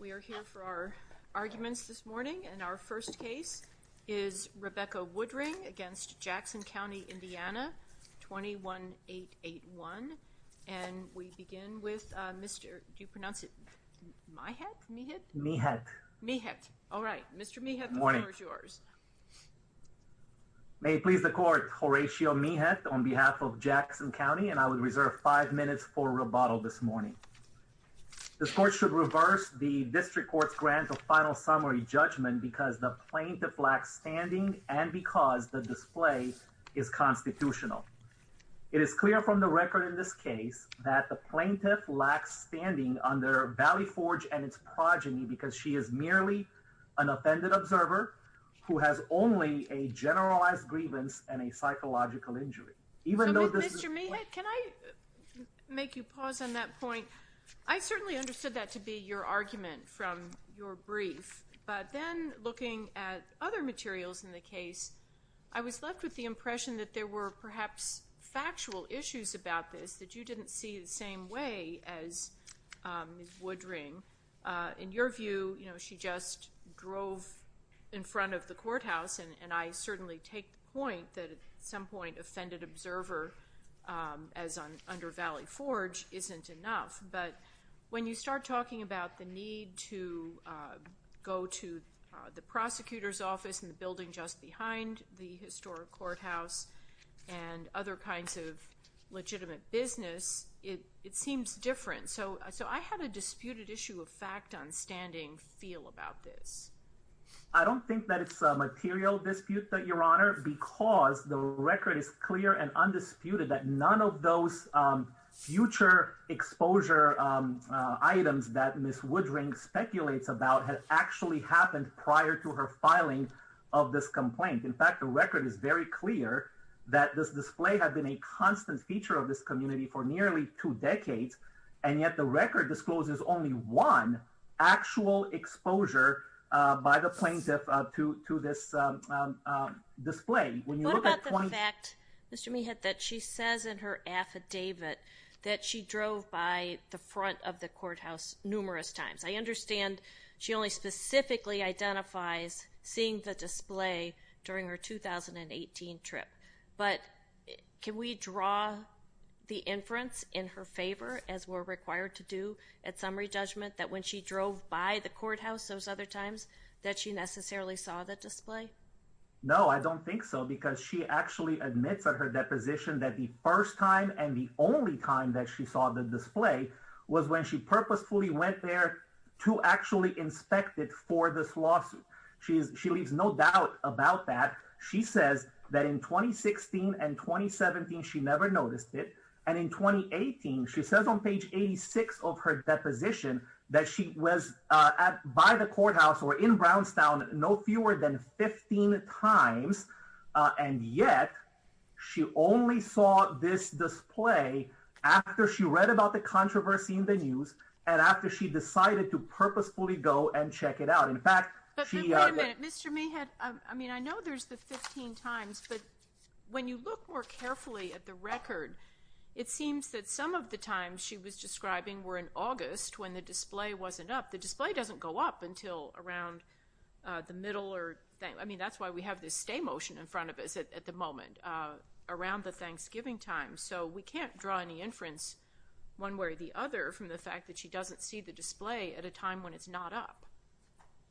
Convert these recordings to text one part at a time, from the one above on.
We are here for our arguments this morning and our first case is Rebecca Woodring against Jackson County, Indiana 21-881 and we begin with Mr. do you pronounce it my hat me hit me hat me hat all right Mr. me have more is yours may please the court Horatio me hat on behalf of Jackson County and I would reserve five minutes for rebuttal this morning this court should reverse the district court's grant of final summary judgment because the plaintiff lacks standing and because the display is constitutional it is clear from the record in this case that the plaintiff lacks standing under Valley Forge and its progeny because she is merely an offended observer who has only a generalized grievance and a psychological injury even though this can I make you pause on that point I certainly understood that to be your argument from your brief but then looking at other materials in the case I was left with the impression that there were perhaps factual issues about this that you didn't see the same way as wood ring in your view you know she just drove in front of the courthouse and and I certainly take the point that at some point offended observer as on under Valley Forge isn't enough but when you start talking about the need to go to the prosecutor's office in the building just behind the historic courthouse and other kinds of legitimate business it it seems different so so I had a disputed issue of fact on standing feel about this I don't think that it's a material dispute that your honor because the record is clear and undisputed that none of those future exposure items that miss wood ring speculates about has actually happened prior to her filing of this complaint in fact the record is very clear that this display had been a constant feature of this community for nearly two decades and yet the record discloses only one actual exposure by the plaintiff to this display when you look at the fact mr. me had that she says in her affidavit that she drove by the front of the courthouse numerous times I understand she only specifically identifies seeing the display during her 2018 trip but can we draw the inference in her favor as we're required to do at summary judgment that when she drove by the courthouse those other times that she necessarily saw the display no I don't think so because she actually admits at her deposition that the first time and the only time that she saw the display was when she purposefully went there to actually inspect it for this lawsuit she leaves no doubt about that she says that in 2016 and 2017 she never noticed it and in 2018 she says on page 86 of her deposition that she was at by the courthouse or in Brownstown no fewer than 15 times and yet she only saw this display after she read about the controversy in the news and after she decided to purposefully go and check it out in fact mr. me had I mean I know there's the 15 times but when you look more carefully at the record it seems that some of the times she was describing were in August when the display wasn't up the display doesn't go up until around the middle or I mean that's why we have this stay motion in front of she doesn't see the display at a time when it's not up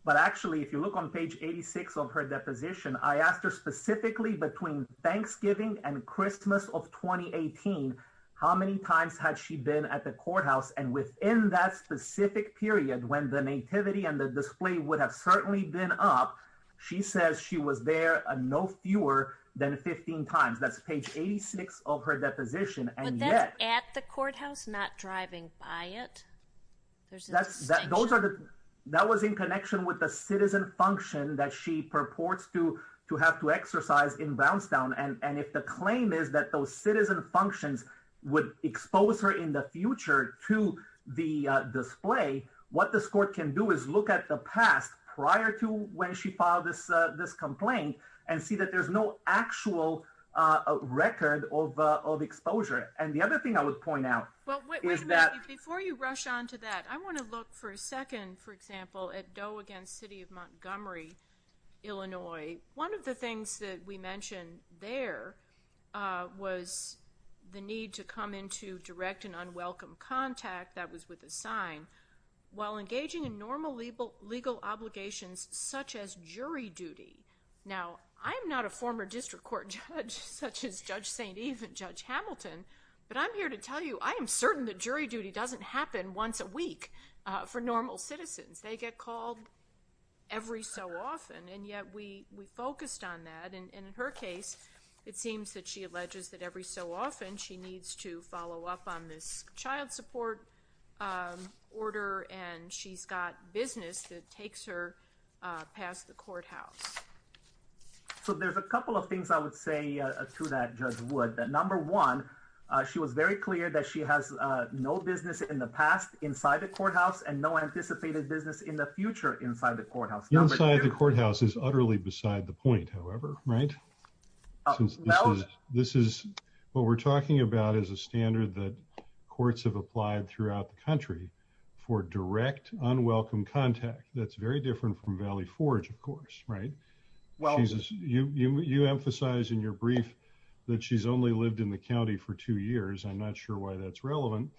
but actually if you look on page 86 of her deposition I asked her specifically between Thanksgiving and Christmas of 2018 how many times had she been at the courthouse and within that specific period when the nativity and the display would have certainly been up she says she was there and no fewer than 15 times that's page of her deposition and yet at the courthouse not driving by it there's that's that those are the that was in connection with the citizen function that she purports to to have to exercise in Brownstown and and if the claim is that those citizen functions would expose her in the future to the display what this court can do is look at the past prior to when she filed this this complaint and see that there's no actual record of of exposure and the other thing I would point out is that before you rush on to that I want to look for a second for example at Doe against City of Montgomery Illinois one of the things that we mentioned there was the need to come into direct and unwelcome contact that was with a sign while engaging in normal legal legal I'm not a former district court judge such as Judge St. Eve and Judge Hamilton but I'm here to tell you I am certain that jury duty doesn't happen once a week for normal citizens they get called every so often and yet we we focused on that and in her case it seems that she alleges that every so often she needs to follow up on this child support order and she's got business that takes her past the courthouse so there's a couple of things I would say to that judge would that number one she was very clear that she has no business in the past inside the courthouse and no anticipated business in the future inside the courthouse inside the courthouse is utterly beside the point however right this is what we're talking about is a standard that courts have applied throughout the country for direct unwelcome contact that's very different from Valley Forge of course right well you you emphasize in your brief that she's only lived in the county for two years I'm not sure why that's relevant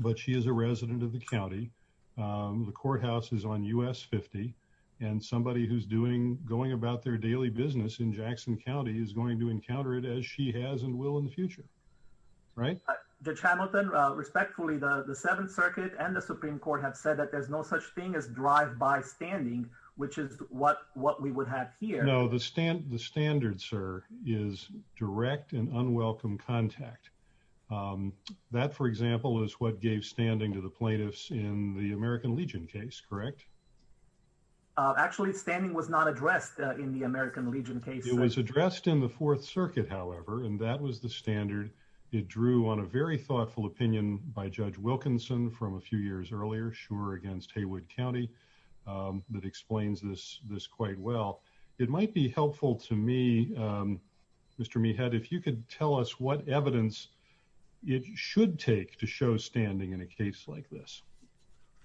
but she is a resident of the county the courthouse is on US 50 and somebody who's doing going about their daily business in Jackson County is going to encounter it as she has and will in the future right the channel then respectfully the the Seventh Circuit and the Supreme Court have said that there's no such thing as drive-by standing which is what what we would have here no the stand the standard sir is direct and unwelcome contact that for example is what gave standing to the plaintiffs in the American Legion case correct actually standing was not addressed in the American Legion case it was addressed in the Fourth Circuit however and that was the standard it drew on a very thoughtful opinion by Judge Wilkinson from a few years earlier Schumer against Haywood County that explains this this quite well it might be helpful to me Mr. me head if you could tell us what evidence it should take to show standing in a case like this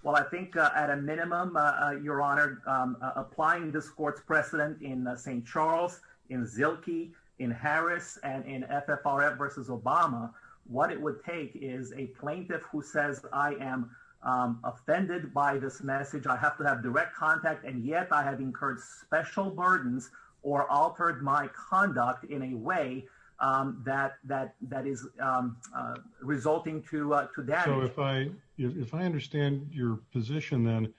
well I think at a minimum your honor applying this court's precedent in St. Charles in Zilke in Harris and in FFRF versus Obama what it would take is a plaintiff who says I am offended by this message I have to have direct contact and yet I have incurred special if I understand your position then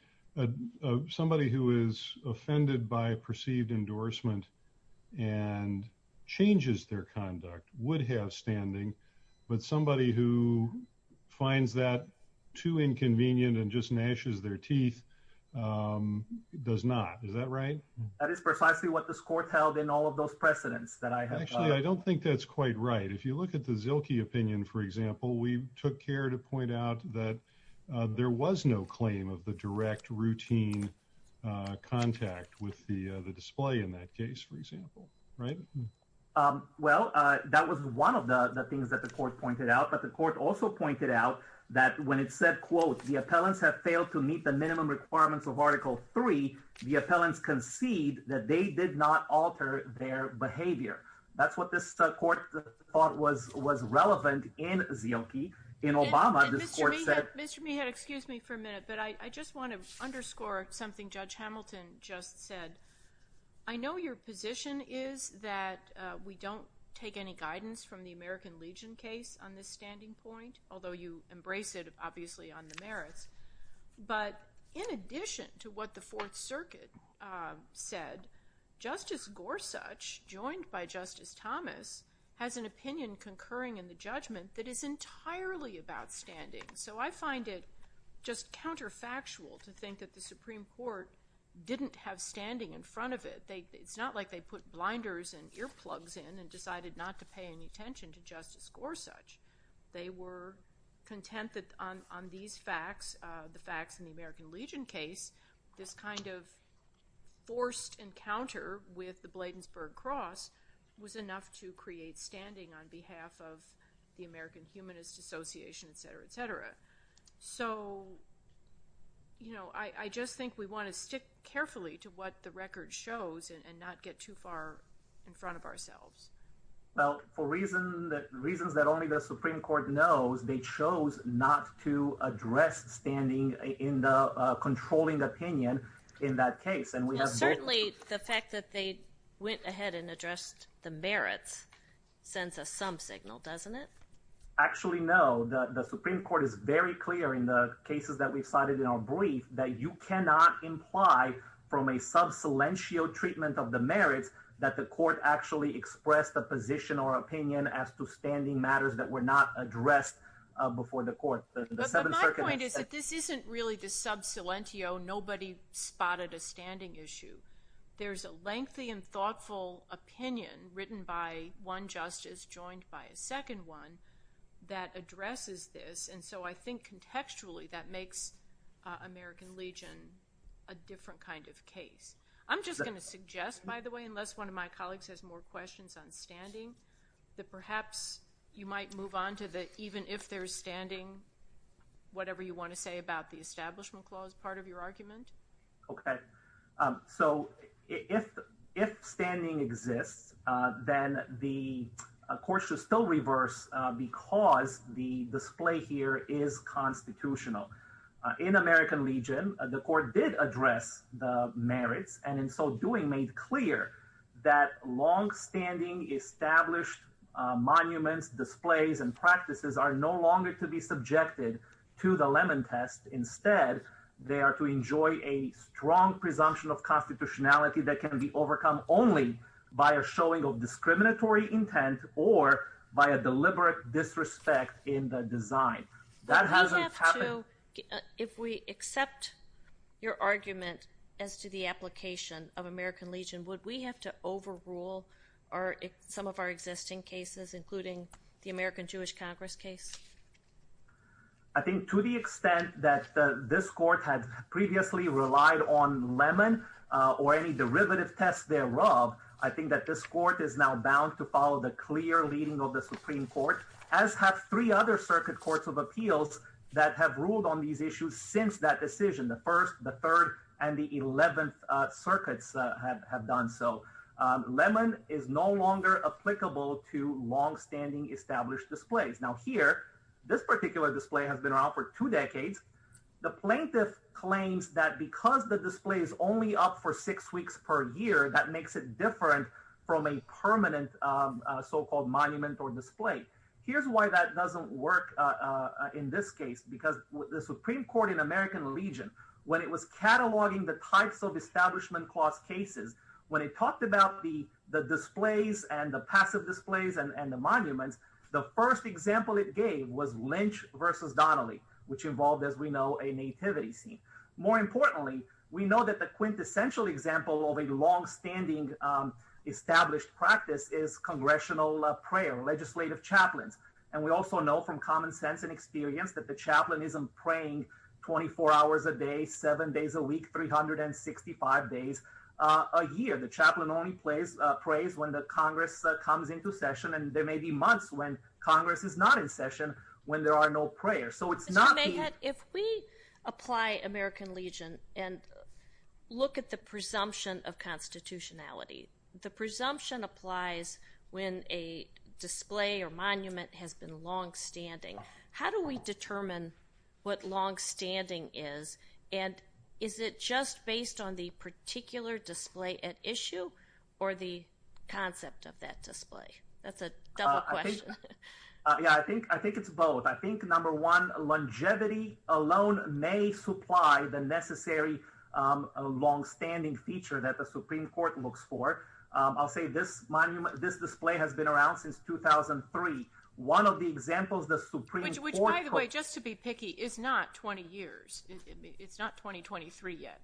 somebody who is offended by a perceived endorsement and changes their conduct would have standing but somebody who finds that too inconvenient and just gnashes their teeth does not is that right that is precisely what this court held in all of those precedents that I have actually I don't think that's quite right if you look at the Zilke opinion for example we took care to point out that there was no claim of the direct routine contact with the the display in that case for example right well that was one of the things that the court pointed out but the court also pointed out that when it said quote the appellants have failed to meet the minimum requirements of article 3 the appellants concede that they did not alter their excuse me for a minute but I just want to underscore something judge Hamilton just said I know your position is that we don't take any guidance from the American Legion case on this standing point although you embrace it obviously on the merits but in addition to what the Fourth that is entirely about standing so I find it just counterfactual to think that the Supreme Court didn't have standing in front of it they it's not like they put blinders and earplugs in and decided not to pay any attention to justice Gorsuch they were content that on these facts the facts in the American Legion case this kind of forced encounter with the Bladensburg Cross was the American Humanist Association etc etc so you know I just think we want to stick carefully to what the record shows and not get too far in front of ourselves well for reason that reasons that only the Supreme Court knows they chose not to address standing in the controlling opinion in that case and we have certainly the fact that they went ahead and addressed the merits sends us some signal doesn't it actually know that the Supreme Court is very clear in the cases that we cited in our brief that you cannot imply from a sub silentio treatment of the merits that the court actually expressed a position or opinion as to standing matters that were not addressed before the court this isn't really the sub silentio nobody spotted a standing issue there's a lengthy and thoughtful opinion written by one justice joined by a second one that addresses this and so I think contextually that makes American Legion a different kind of case I'm just going to suggest by the way unless one of my colleagues has more questions on standing that perhaps you might move on to the even if they're standing whatever you want to say about the Establishment Clause part of your argument okay so if if standing exists then the course should still reverse because the display here is constitutional in American Legion the court did address the merits and in so doing made clear that long-standing established monuments displays and practices are no longer to be subjected to the lemon test instead they are to enjoy a strong presumption of constitutionality that can be overcome only by a showing of discriminatory intent or by a deliberate disrespect in the design that has if we accept your argument as to the application of American Legion would we have to overrule or some of our existing cases including the American Jewish Congress case I think to the extent that this court had previously relied on lemon or any derivative tests thereof I think that this court is now bound to follow the clear leading of the Supreme Court as have three other circuit courts of appeals that have ruled on these issues since that decision the first the third and the 11th circuits have done so lemon is no longer applicable to long-standing established displays now here this particular display has been around for two decades the plaintiff claims that because the display is only up for six weeks per year that makes it different from a permanent so-called monument or display here's why that doesn't work in this case because the Supreme Court in American Legion when it was cataloging the types of establishment cost cases when it talked about the the displays and the passive displays and and the monuments the first example it gave was Lynch versus Donnelly which involved as we know a nativity scene more importantly we know that the quintessential example of a long-standing established practice is congressional prayer legislative chaplains and we also know from days a year the chaplain only plays praise when the Congress comes into session and there may be months when Congress is not in session when there are no prayers so it's not if we apply American Legion and look at the presumption of constitutionality the presumption applies when a display or monument has been long-standing how do we determine what long-standing is and is it just based on the particular display at issue or the concept of that display that's a yeah I think I think it's both I think number one longevity alone may supply the necessary a long-standing feature that the Supreme Court looks for I'll say this monument this display has been around since 2003 one of the examples the Supreme Court just to be picky is not 20 years it's not 2023 yet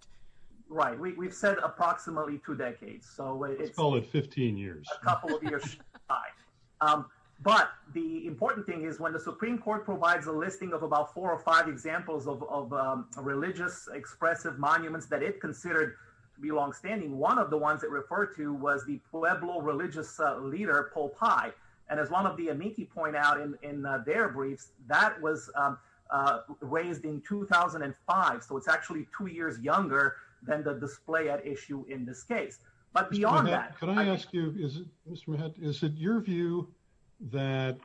right we've said approximately two decades so it's only 15 years but the important thing is when the Supreme Court provides a listing of about four or five examples of religious expressive monuments that it considered to be long-standing one of the ones that refer to was the Pueblo religious leader Pope I and as one of the amici point out in their briefs that was raised in 2005 so it's actually two years younger than the display at issue in this case but beyond that can I ask you is it your view that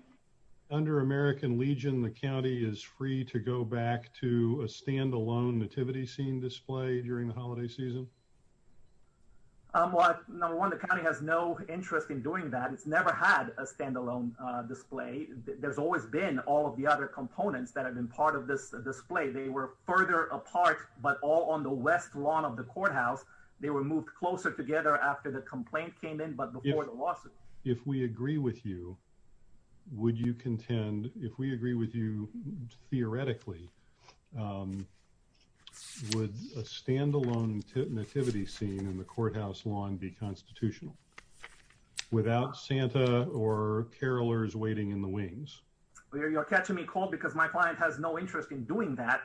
under American Legion the county is free to go back to a standalone nativity scene display during the holiday season number one the county has no interest in doing that it's never had a standalone display there's always been all of the other components that have been part of this display they were further apart but all on the west lawn of the courthouse they were moved closer together after the complaint came in but if we agree with you would you contend if we agree with you theoretically would a standalone nativity scene in the courthouse lawn be constitutional without Santa or carolers waiting in the wings you're catching me cold because my client has no interest in doing that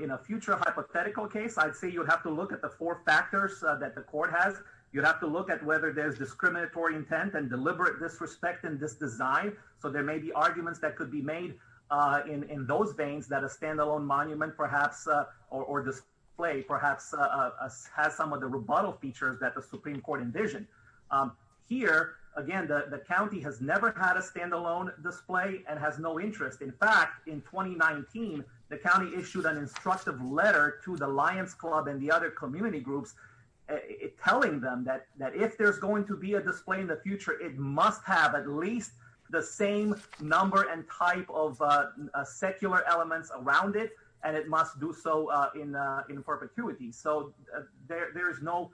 in a future hypothetical case I'd say you have to look at the four factors that the court has you'd have to look at whether there's discriminatory intent and deliberate disrespect in this design so there may be arguments that could be made in in those veins that a standalone monument perhaps or display perhaps has some of the rebuttal features that the Supreme Court envisioned here again the county has never had a standalone display and has no interest in fact in 2019 the county issued an instructive letter to the Lions Club and the other community groups telling them that that if there's going to be a display in the future it must have at least the same number and type of secular elements around it and it must do so in in perpetuity so there's no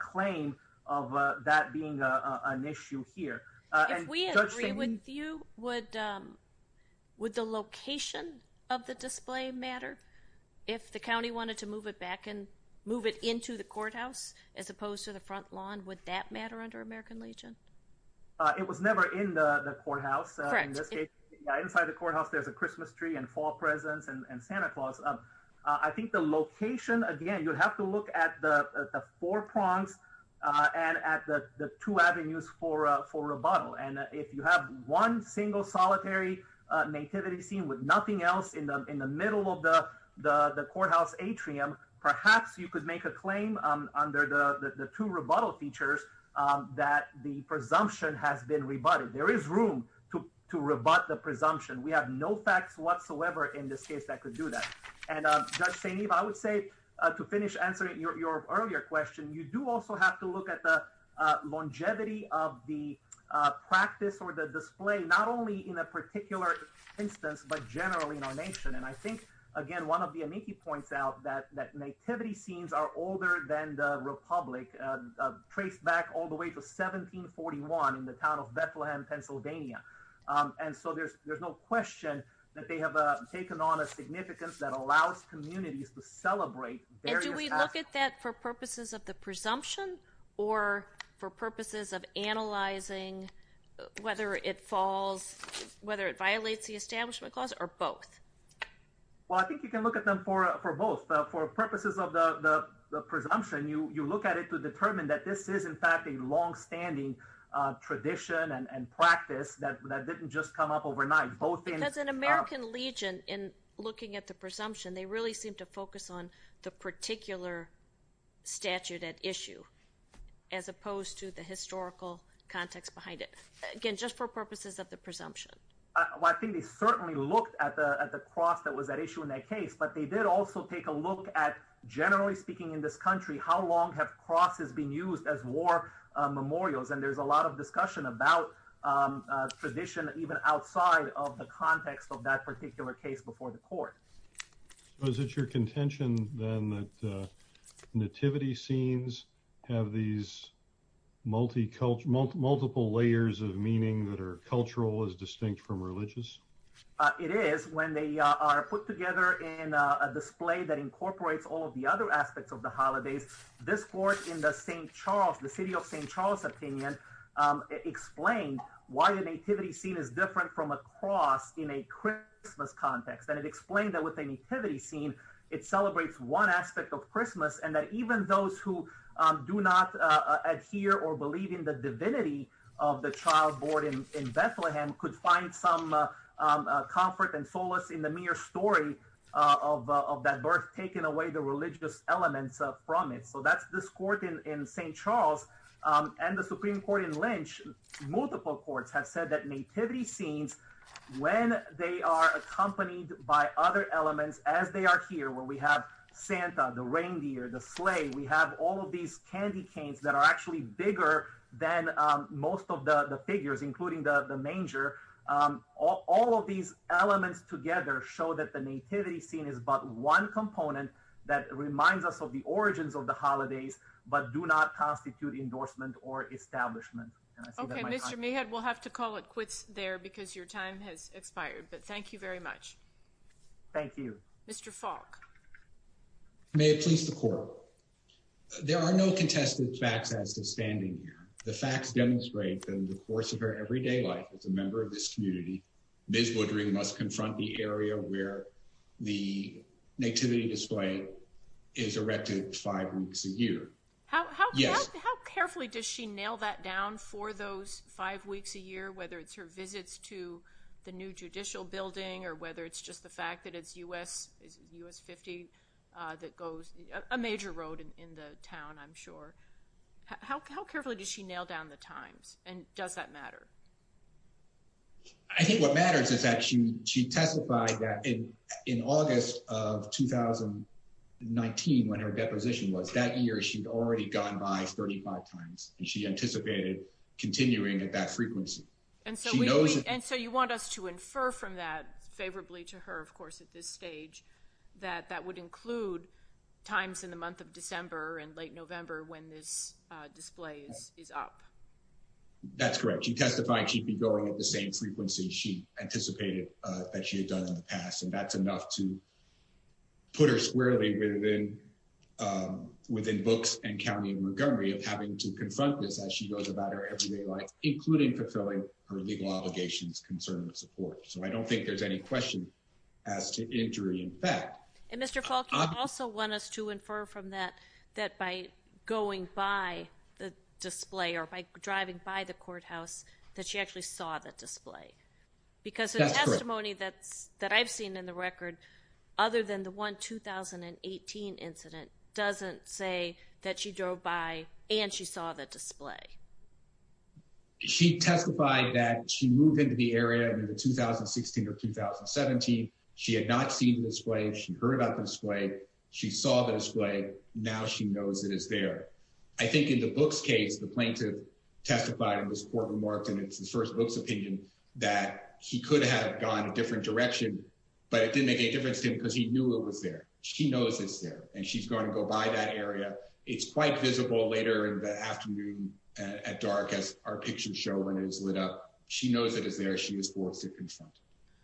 claim of that being an issue here we agree with you would with the location of the display matter if the county wanted to move it back and move it into the it was never in the courthouse inside the courthouse there's a Christmas tree and fall presents and Santa Claus up I think the location again you have to look at the four prongs and at the two avenues for for rebuttal and if you have one single solitary nativity scene with nothing else in them in the middle of the the the courthouse atrium perhaps you could make a claim under the the two rebuttal features that the presumption has been rebutted there is room to rebut the presumption we have no facts whatsoever in this case that could do that and I would say to finish answering your earlier question you do also have to look at the longevity of the practice or the display not only in a particular instance but generally in our nation and I think again one of the amici points out that that nativity scenes are older than the Republic traced back all the way to 1741 in the town of Bethlehem Pennsylvania and so there's there's no question that they have taken on a significance that allows communities to celebrate do we look at that for purposes of the presumption or for purposes of analyzing whether it falls whether it violates the Establishment Clause or both well I think you can look at them for for both for purposes of the presumption you you look at it to determine that this is in fact a long-standing tradition and practice that didn't just come up overnight both because an American Legion in looking at the presumption they really seem to focus on the particular statute at issue as opposed to the historical context behind it again just for purposes of the presumption I think they certainly looked at the at the cross that was that issue in that case but they did also take a look at generally speaking in this country how long have crosses been used as war memorials and there's a lot of discussion about tradition even outside of the context of that particular case is it your contention then that nativity scenes have these multicultural multiple layers of meaning that are cultural as distinct from religious it is when they are put together in a display that incorporates all of the other aspects of the holidays this court in the st. Charles the city of st. Charles opinion explained why the nativity scene is different from a cross in a Christmas context and it explained that with a nativity scene it celebrates one aspect of Christmas and that even those who do not adhere or believe in the divinity of the child boarding in Bethlehem could find some comfort and solace in the mere story of that birth taking away the religious elements of from it so that's this court in st. Charles and the Supreme Court in they are accompanied by other elements as they are here where we have Santa the reindeer the sleigh we have all of these candy canes that are actually bigger than most of the the figures including the the manger all of these elements together show that the nativity scene is but one component that reminds us of the origins of the holidays but do not constitute endorsement or expired but thank you very much thank you mr. Falk may it please the court there are no contested facts as to standing here the facts demonstrate that in the course of her everyday life as a member of this community ms. Woodring must confront the area where the nativity display is erected five weeks a year how carefully does she nail that down for those five weeks a year whether it's her visits to the new judicial building or whether it's just the fact that it's u.s. is u.s. 50 that goes a major road in the town I'm sure how carefully does she nail down the times and does that matter I think what matters is that she she testified that in in August of 2019 when her deposition was that year she'd already gone by 35 times and she anticipated continuing at frequency and so we know and so you want us to infer from that favorably to her of course at this stage that that would include times in the month of December and late November when this display is up that's correct she testified she'd be going at the same frequency she anticipated that she had done in the past and that's enough to put her squarely within within books and county of having to confront this as she goes about her everyday life including fulfilling her legal obligations concern and support so I don't think there's any question as to injury in fact and Mr. Falk you also want us to infer from that that by going by the display or by driving by the courthouse that she actually saw the display because the testimony that's that I've seen in the record other than the one 2018 incident doesn't say that she drove by and she saw the display she testified that she moved into the area in the 2016 or 2017 she had not seen the display she heard about the display she saw the display now she knows it is there I think in the book's case the plaintiff testified in this court remarked and it's the first book's opinion that he could have gone a different direction but it didn't make any difference to him because he knew it was there she knows it's there and she's going to go by that area it's quite visible later in the afternoon at dark as our pictures show when it is lit up she knows it is there she is forced to confront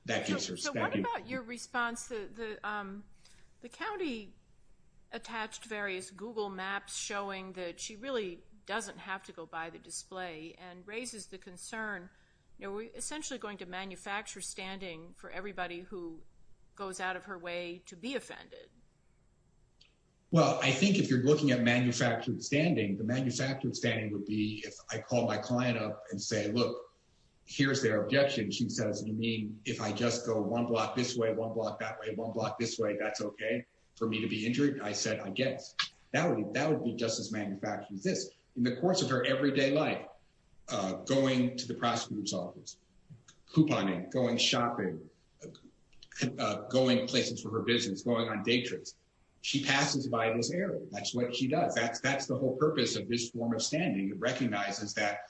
that gives her so what about your response the um the county attached various google maps showing that she really doesn't have to go by the display and raises the concern you essentially going to manufacture standing for everybody who goes out of her way to be offended well I think if you're looking at manufactured standing the manufactured standing would be if I call my client up and say look here's their objection she says you mean if I just go one block this way one block that way one block this way that's okay for me to be injured I said I guess that would that would be just as manufactured as this in the course of her everyday life going to the prosecutor's office couponing going shopping going places for her business going on day trips she passes by this area that's what she does that's that's the whole purpose of this form of standing it recognizes that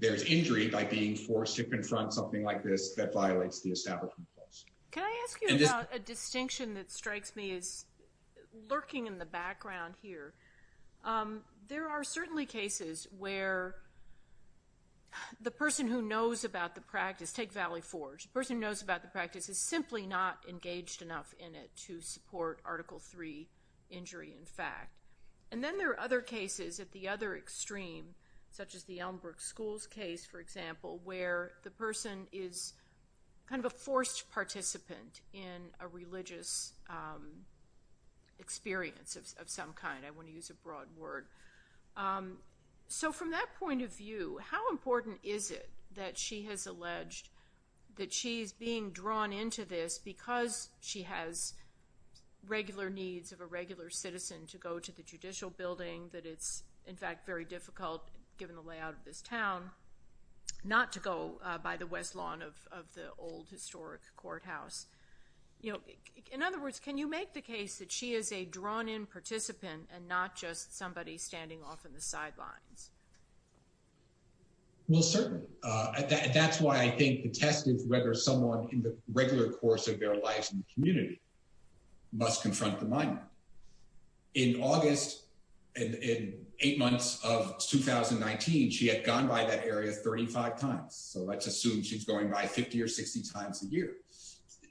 there's injury by being forced to confront something like this that violates the establishment clause can I ask you about a distinction that there the person who knows about the practice take Valley Forge person knows about the practice is simply not engaged enough in it to support article three injury in fact and then there are other cases at the other extreme such as the Elmbrook schools case for example where the person is kind of a forced participant in a religious experience of some kind I want to use a broad word so from that point of view how important is it that she has alleged that she's being drawn into this because she has regular needs of a regular citizen to go to the judicial building that it's in fact very difficult given the layout of this town not to go by the west lawn of the old historic courthouse you know in other words can you make the case that she is a drawn-in participant and not just somebody standing off in the sidelines well certainly that's why I think the test is whether someone in the regular course of their lives in the community must confront the monument in August and in eight months of 2019 she had gone by that area 35 times so let's assume she's going by 50 or 60 times a year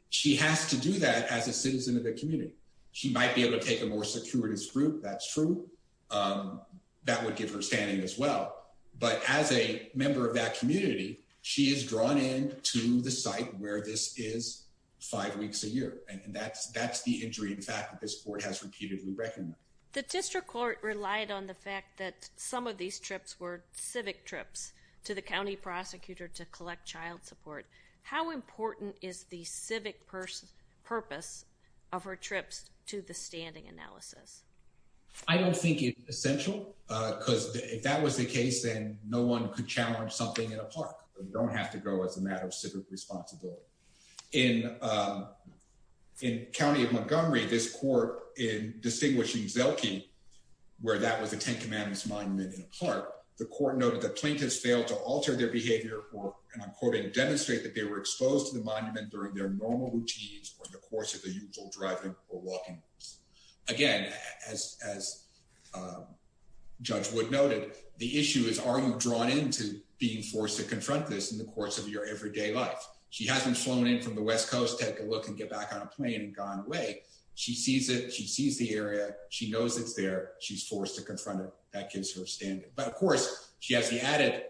she has to do that as a citizen of the community she might be able to take more securities group that's true that would give her standing as well but as a member of that community she is drawn in to the site where this is five weeks a year and that's that's the injury in fact that this court has repeatedly recognized the district court relied on the fact that some of these trips were civic trips to the county prosecutor to collect child support how important is the civic person purpose of her trips to the standing analysis I don't think it's essential uh because if that was the case then no one could challenge something in a park you don't have to go as a matter of civic responsibility in um in county of montgomery this court in distinguishing zelke where that was a 10 commandments monument in a park the court noted that plaintiffs failed to alter their behavior or and i'm quoting demonstrate that they were exposed to the monument during their normal routines or the course of the usual driving or walking again as as judge wood noted the issue is are you drawn into being forced to confront this in the course of your everyday life she hasn't flown in from the west coast take a look and get back on a plane and gone away she sees it she sees the area she knows it's there she's forced to confront it that is her standard but of course she has the added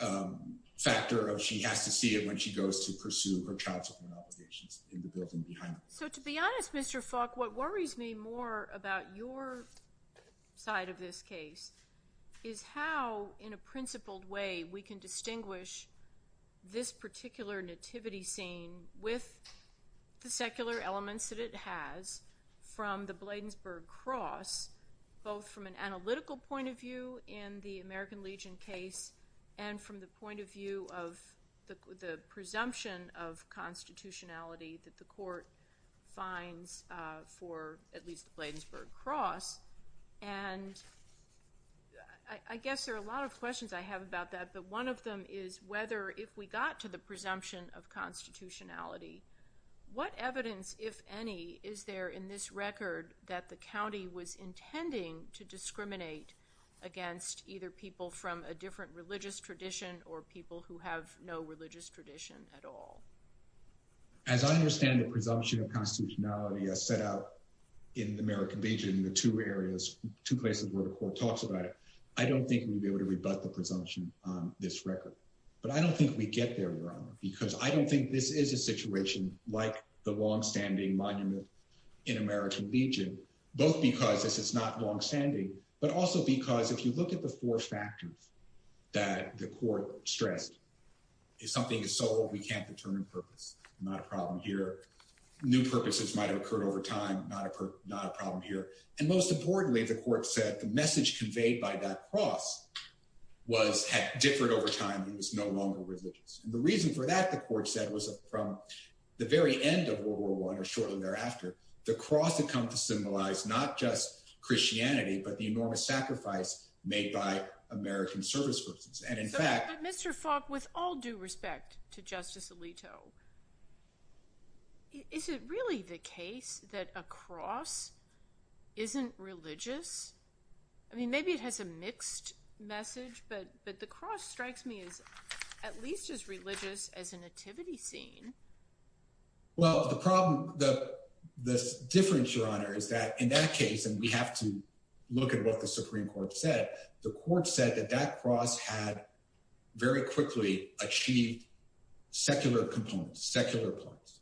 um factor of she has to see it when she goes to pursue her child support obligations in the building behind so to be honest mr falk what worries me more about your side of this case is how in a principled way we can distinguish this particular nativity scene with the secular elements that it has from the bladensberg cross both from an analytical point of view in the american legion case and from the point of view of the the presumption of constitutionality that the court finds uh for at least the bladensberg cross and i i guess there are a lot of questions i have about that but one of them is whether if we got to the presumption of constitutionality what evidence if any is there in this record that the county was intending to discriminate against either people from a different religious tradition or people who have no religious tradition at all as i understand the presumption of constitutionality as set out in the american legion the two areas two places where the court talks about it i don't think we'd be able to rebut the presumption on this record but i don't think we get there your honor because i don't think this is a situation like the long-standing monument in american legion both because this is not long-standing but also because if you look at the four factors that the court stressed is something is sold we can't determine purpose not a problem here new purposes might have occurred over time not a not a problem here and most importantly the court said the message conveyed by that cross was had differed over time it was no longer religious and the reason for that the court said was from the very end of world war one or shortly thereafter the cross had come to symbolize not just christianity but the enormous sacrifice made by american service persons and in fact mr falk with all due respect to justice alito is it really the case that a cross isn't religious i mean maybe it has a mixed message but but the cross strikes me as at seen well the problem the the difference your honor is that in that case and we have to look at what the supreme court said the court said that that cross had very quickly achieved secular components secular points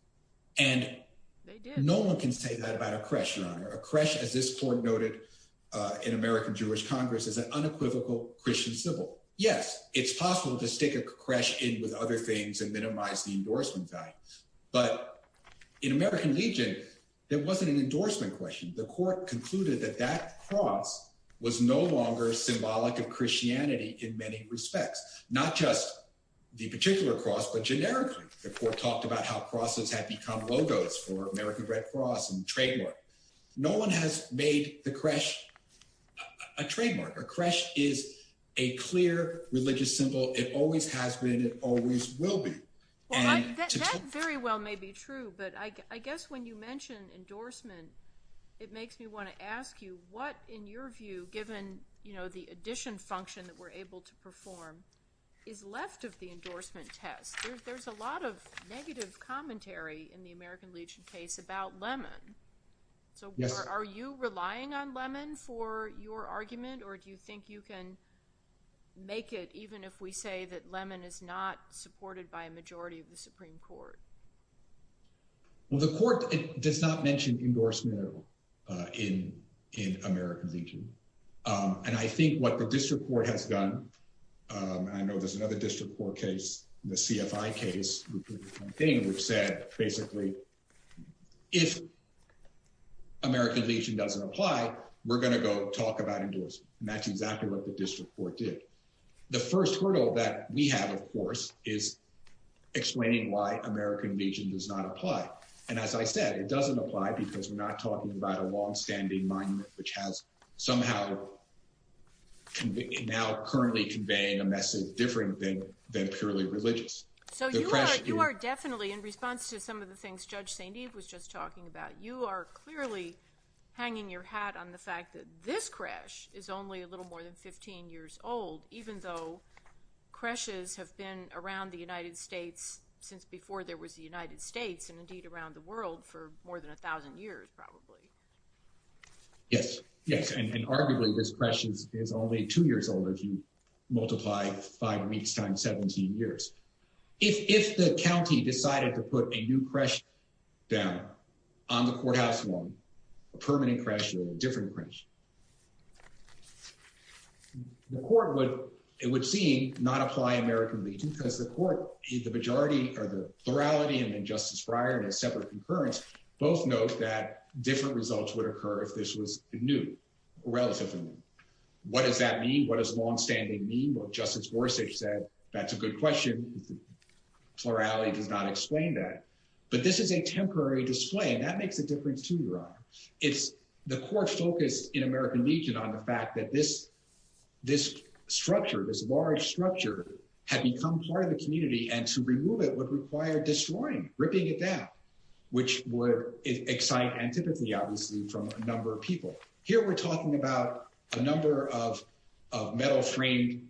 and no one can say that about a question on a crash as this court noted uh in american jewish congress as an unequivocal christian civil yes it's possible to stick a crash in with other things and minimize the endorsement value but in american legion there wasn't an endorsement question the court concluded that that cross was no longer symbolic of christianity in many respects not just the particular cross but generically the court talked about how crosses had become logos for american red cross and trademark no one has made the crash a trademark a crash is a clear religious symbol it always has been it always will be very well may be true but i i guess when you mention endorsement it makes me want to ask you what in your view given you know the addition function that we're able to perform is left of the endorsement test there's a lot of negative commentary in the american legion case about lemon so are you relying on lemon for your argument or do you think you can make it even if we say that lemon is not supported by a majority of the supreme court well the court it does not mention endorsement at all uh in in american legion um and i think what the district court has done um i know there's another district court case the cfi case which said basically if american legion doesn't apply we're going to go talk about endorsement and that's exactly what the district court did the first hurdle that we have of course is explaining why american legion does not apply and as i said it doesn't apply because we're not talking about a long-standing monument which has somehow now currently conveying a message than purely religious so you are you are definitely in response to some of the things judge saint eve was just talking about you are clearly hanging your hat on the fact that this crash is only a little more than 15 years old even though crashes have been around the united states since before there was the united states and indeed around the world for more than a thousand years probably yes yes and arguably this question is only two years old if you multiply five weeks times 17 years if if the county decided to put a new crash down on the courthouse one a permanent crash or a different crash the court would it would seem not apply american legion because the court the majority or the plurality and then justice briar and a separate concurrence both note that different results would occur if this was new relatively what does that mean what does long-standing mean what justice gorsuch said that's a good question plurality does not explain that but this is a temporary display and that makes a difference to your honor it's the court focused in american legion on the fact that this this structure this large structure had become part of the community and to remove it would require destroying ripping it down which would excite and typically obviously from a number of people here we're talking about a number of of metal framed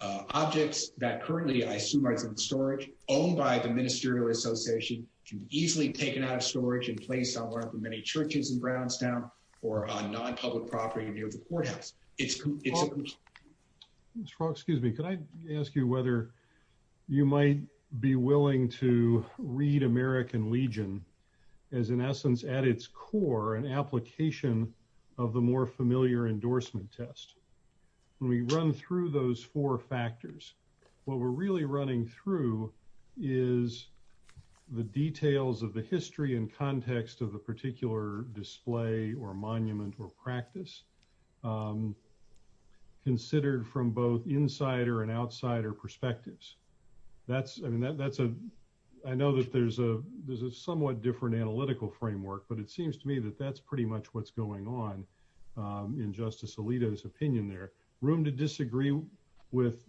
objects that currently i assume are in storage owned by the ministerial association can be easily taken out of storage and placed on one of the many churches in brownstown or on non-public property near the courthouse it's it's excuse me could i ask you whether you might be willing to read american legion as in essence at its core an application of the more familiar endorsement test when we run through those four factors what we're really running through is the details of the history and context of the particular display or monument or practice considered from both insider and outsider perspectives that's i mean that that's a i know that there's a there's a somewhat different analytical framework but it seems to me that that's pretty much what's going on um in justice alito's opinion there room to disagree with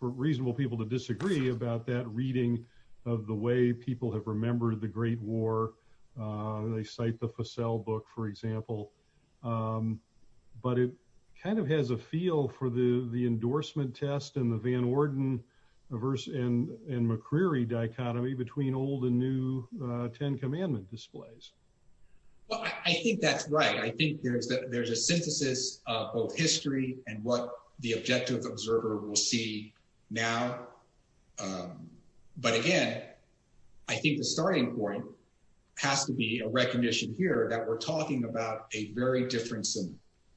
for reasonable people to disagree about that reading of the way people have remembered the great war they cite the facel book for example um but it kind of has a feel for the the endorsement test and the van orden verse and and mccreary dichotomy between old and new uh 10 commandment displays well i think that's right i think there's that there's a synthesis of both history and what the objective observer will see now um but again i think the starting point has to be a recognition here that we're talking about a very different scene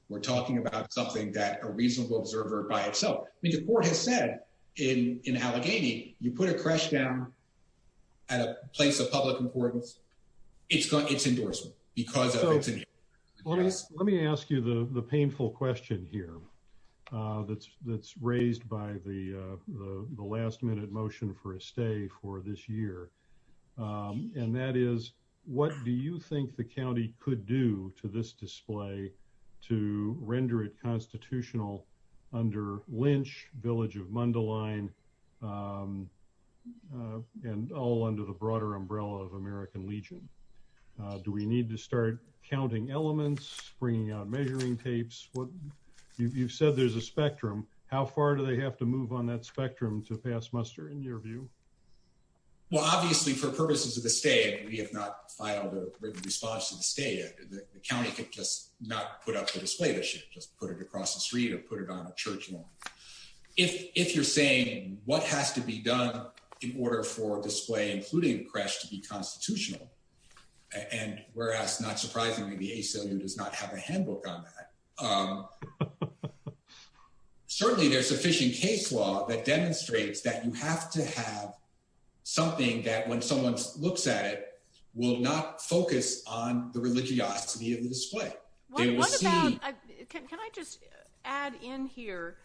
we're talking about something that a reasonable observer by itself i mean the court has said in in allegheny you put a crash down at a place of public importance it's got its endorsement because let me ask you the the painful question here uh that's that's raised by the uh the last minute motion for a stay for this year um and that is what do you think the county could do to this uh and all under the broader umbrella of american legion uh do we need to start counting elements bringing out measuring tapes what you've said there's a spectrum how far do they have to move on that spectrum to pass muster in your view well obviously for purposes of the state we have not filed a written response to the state the county could just not put up the display that should just put it across the street or put it on a church lawn if if you're saying what has to be done in order for display including crash to be constitutional and whereas not surprisingly the aclu does not have a handbook on that um certainly there's sufficient case law that demonstrates that you have to have something that when someone looks at it will not focus on the religiosity of the display what about can i just add in here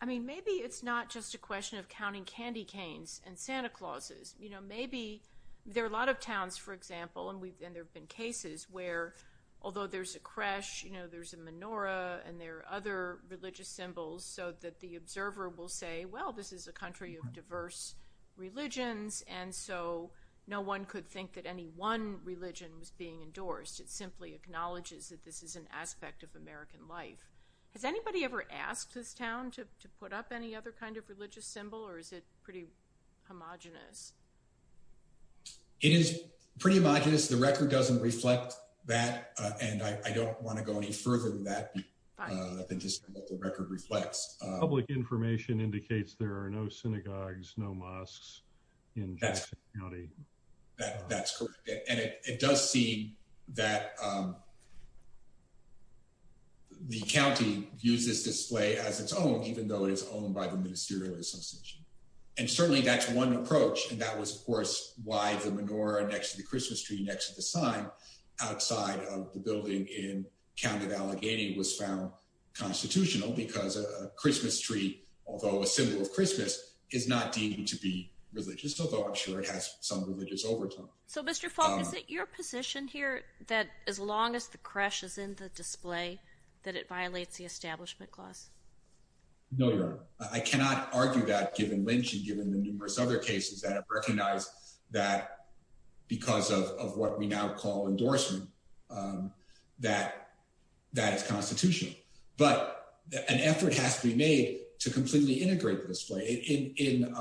i mean maybe it's not just a question of counting candy canes and santa clauses you know maybe there are a lot of towns for example and we've and there have been cases where although there's a crash you know there's a menorah and there are other religious symbols so that the observer will say well this is a country of diverse religions and so no one could think that any one religion was being endorsed it simply acknowledges that this is an aspect of american life has anybody ever asked this town to put up any other kind of religious symbol or is it pretty homogenous it is pretty homogenous the record doesn't reflect that and i don't want to go any further than that than just what the record reflects public information indicates there are no synagogues no mosques in county that that's correct and it does see that um the county uses display as its own even though it is owned by the ministerial association and certainly that's one approach and that was of course why the menorah next to the christmas tree next to the sign outside of the building in county of allegheny was found constitutional because a christmas tree although a symbol of christmas is not deemed to be religious although i'm sure it has some religious overtone so mr falk is it your position here that as long as the crash is in the display that it violates the establishment clause no your honor i cannot argue that given lynch and given the numerous other cases that have recognized that because of what we now call endorsement that that is constitutional but an effort has to be made to completely integrate the display in in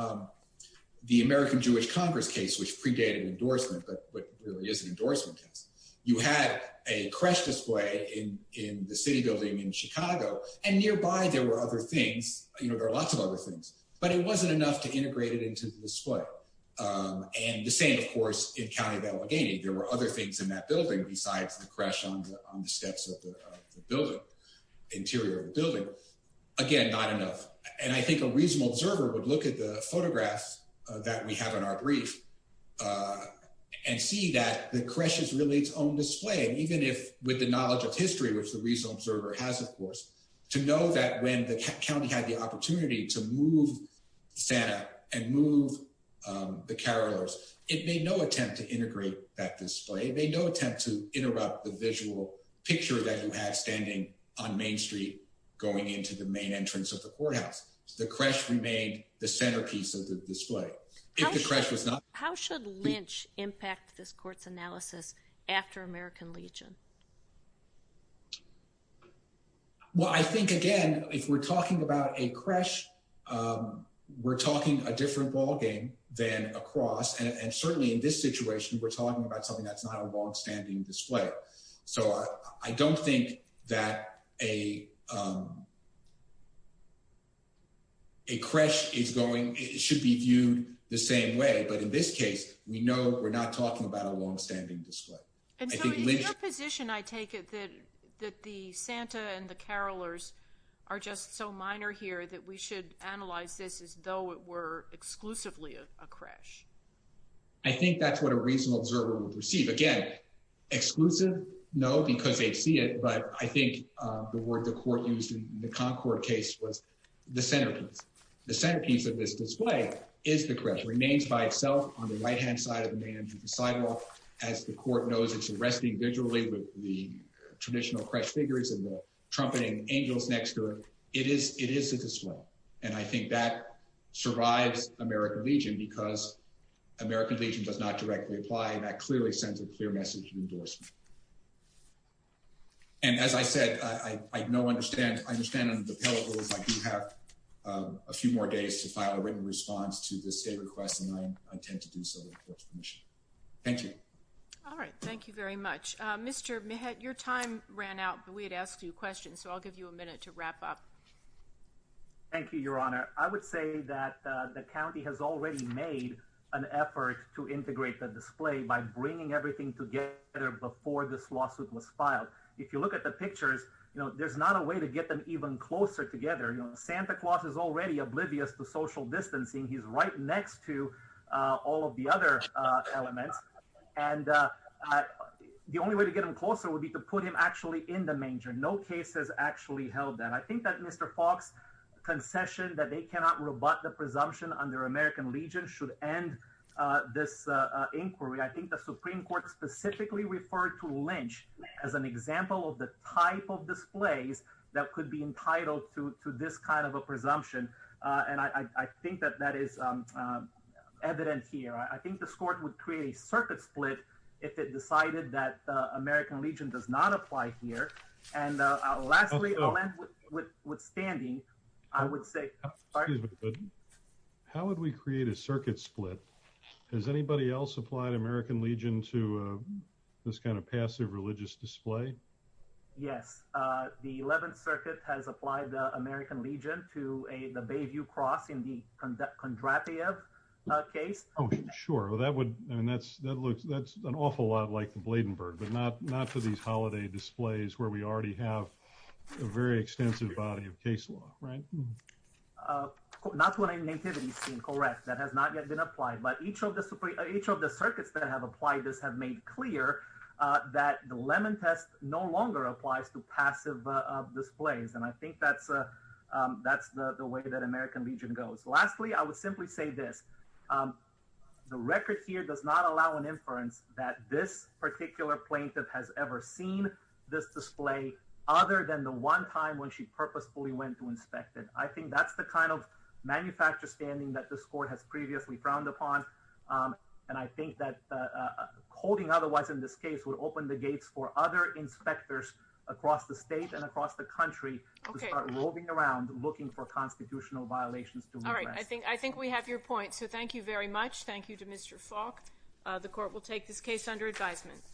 the american jewish congress case which predated endorsement but what really is an endorsement test you had a crash display in in the city building in chicago and nearby there were other things you know there are lots of other things but it wasn't to integrate it into the display and the same of course in county of allegheny there were other things in that building besides the crash on the on the steps of the building interior of the building again not enough and i think a reasonable observer would look at the photographs that we have in our brief uh and see that the crash is really its own display even if with the knowledge of history which the reason observer has of course to know that when the county had the opportunity to move santa and move the carolers it made no attempt to integrate that display it made no attempt to interrupt the visual picture that you had standing on main street going into the main entrance of the courthouse the crash remained the centerpiece of the display if the crash was not how should lynch impact this court's analysis after american legion well i think again if we're talking about a crash um we're talking a different ball game than across and certainly in this situation we're talking about something that's not a long-standing display so i i don't think that a um a crash is going it should be viewed the same way but in this case we know we're not talking about a crash so in that position i take it that that the santa and the carolers are just so minor here that we should analyze this as though it were exclusively a crash i think that's what a reasonable observer would receive again exclusive no because they'd see it but i think uh the word the court used in the concord case was the centerpiece the centerpiece of this display is the correct remains by itself on the right hand side of the main entrance sidewalk as the court knows it's arresting visually with the traditional crash figures and the trumpeting angels next to it it is it is a display and i think that survives american legion because american legion does not directly apply and that clearly sends a clear message of endorsement and as i said i i no understand i understand the appellate rules i do have a few more days to file a written response to this state request and i intend to do so thank you all right thank you very much uh mr mehet your time ran out but we had asked you questions so i'll give you a minute to wrap up thank you your honor i would say that the county has already made an effort to integrate the display by bringing everything together before this lawsuit was filed if you look at the pictures you know there's not a way to get them even closer together you know santa claus is already oblivious to social distancing he's right next to uh all of the other uh elements and uh the only way to get him closer would be to put him actually in the manger no case has actually held that i think that mr fox concession that they cannot rebut the presumption under american legion should end uh this uh inquiry i think the supreme court specifically referred to lynch as an example of the type of displays that could be entitled to to this kind of a presumption uh and i i think that that is um evident here i think the court would create a circuit split if it decided that american legion does not apply here and lastly withstanding i would say how would we create a circuit split has anybody else applied american legion to uh this kind of passive religious display yes uh the 11th circuit has applied the american legion to a the bayview cross in the conduct contraptive uh case oh sure well that would i mean that's that looks that's an awful lot like the bladenberg but not not for these holiday displays where we already have a very extensive body of case law right uh not what i natively correct that has not yet been applied but each of the supreme each of the circuits that have applied this have made clear uh that the lemon test no longer applies to passive uh displays and i think that's uh that's the way that american legion goes lastly i would simply say this um the record here does not allow an inference that this particular plaintiff has ever seen this display other than the one time when she purposefully went to inspect it i think that's the kind of manufacturer standing that this court has previously frowned upon um and i think that holding otherwise in this case would open the gates for other inspectors across the state and across the country to start moving around looking for constitutional violations all right i think i think we have your point so thank you very much thank you to mr falk uh the court will take this case under advisement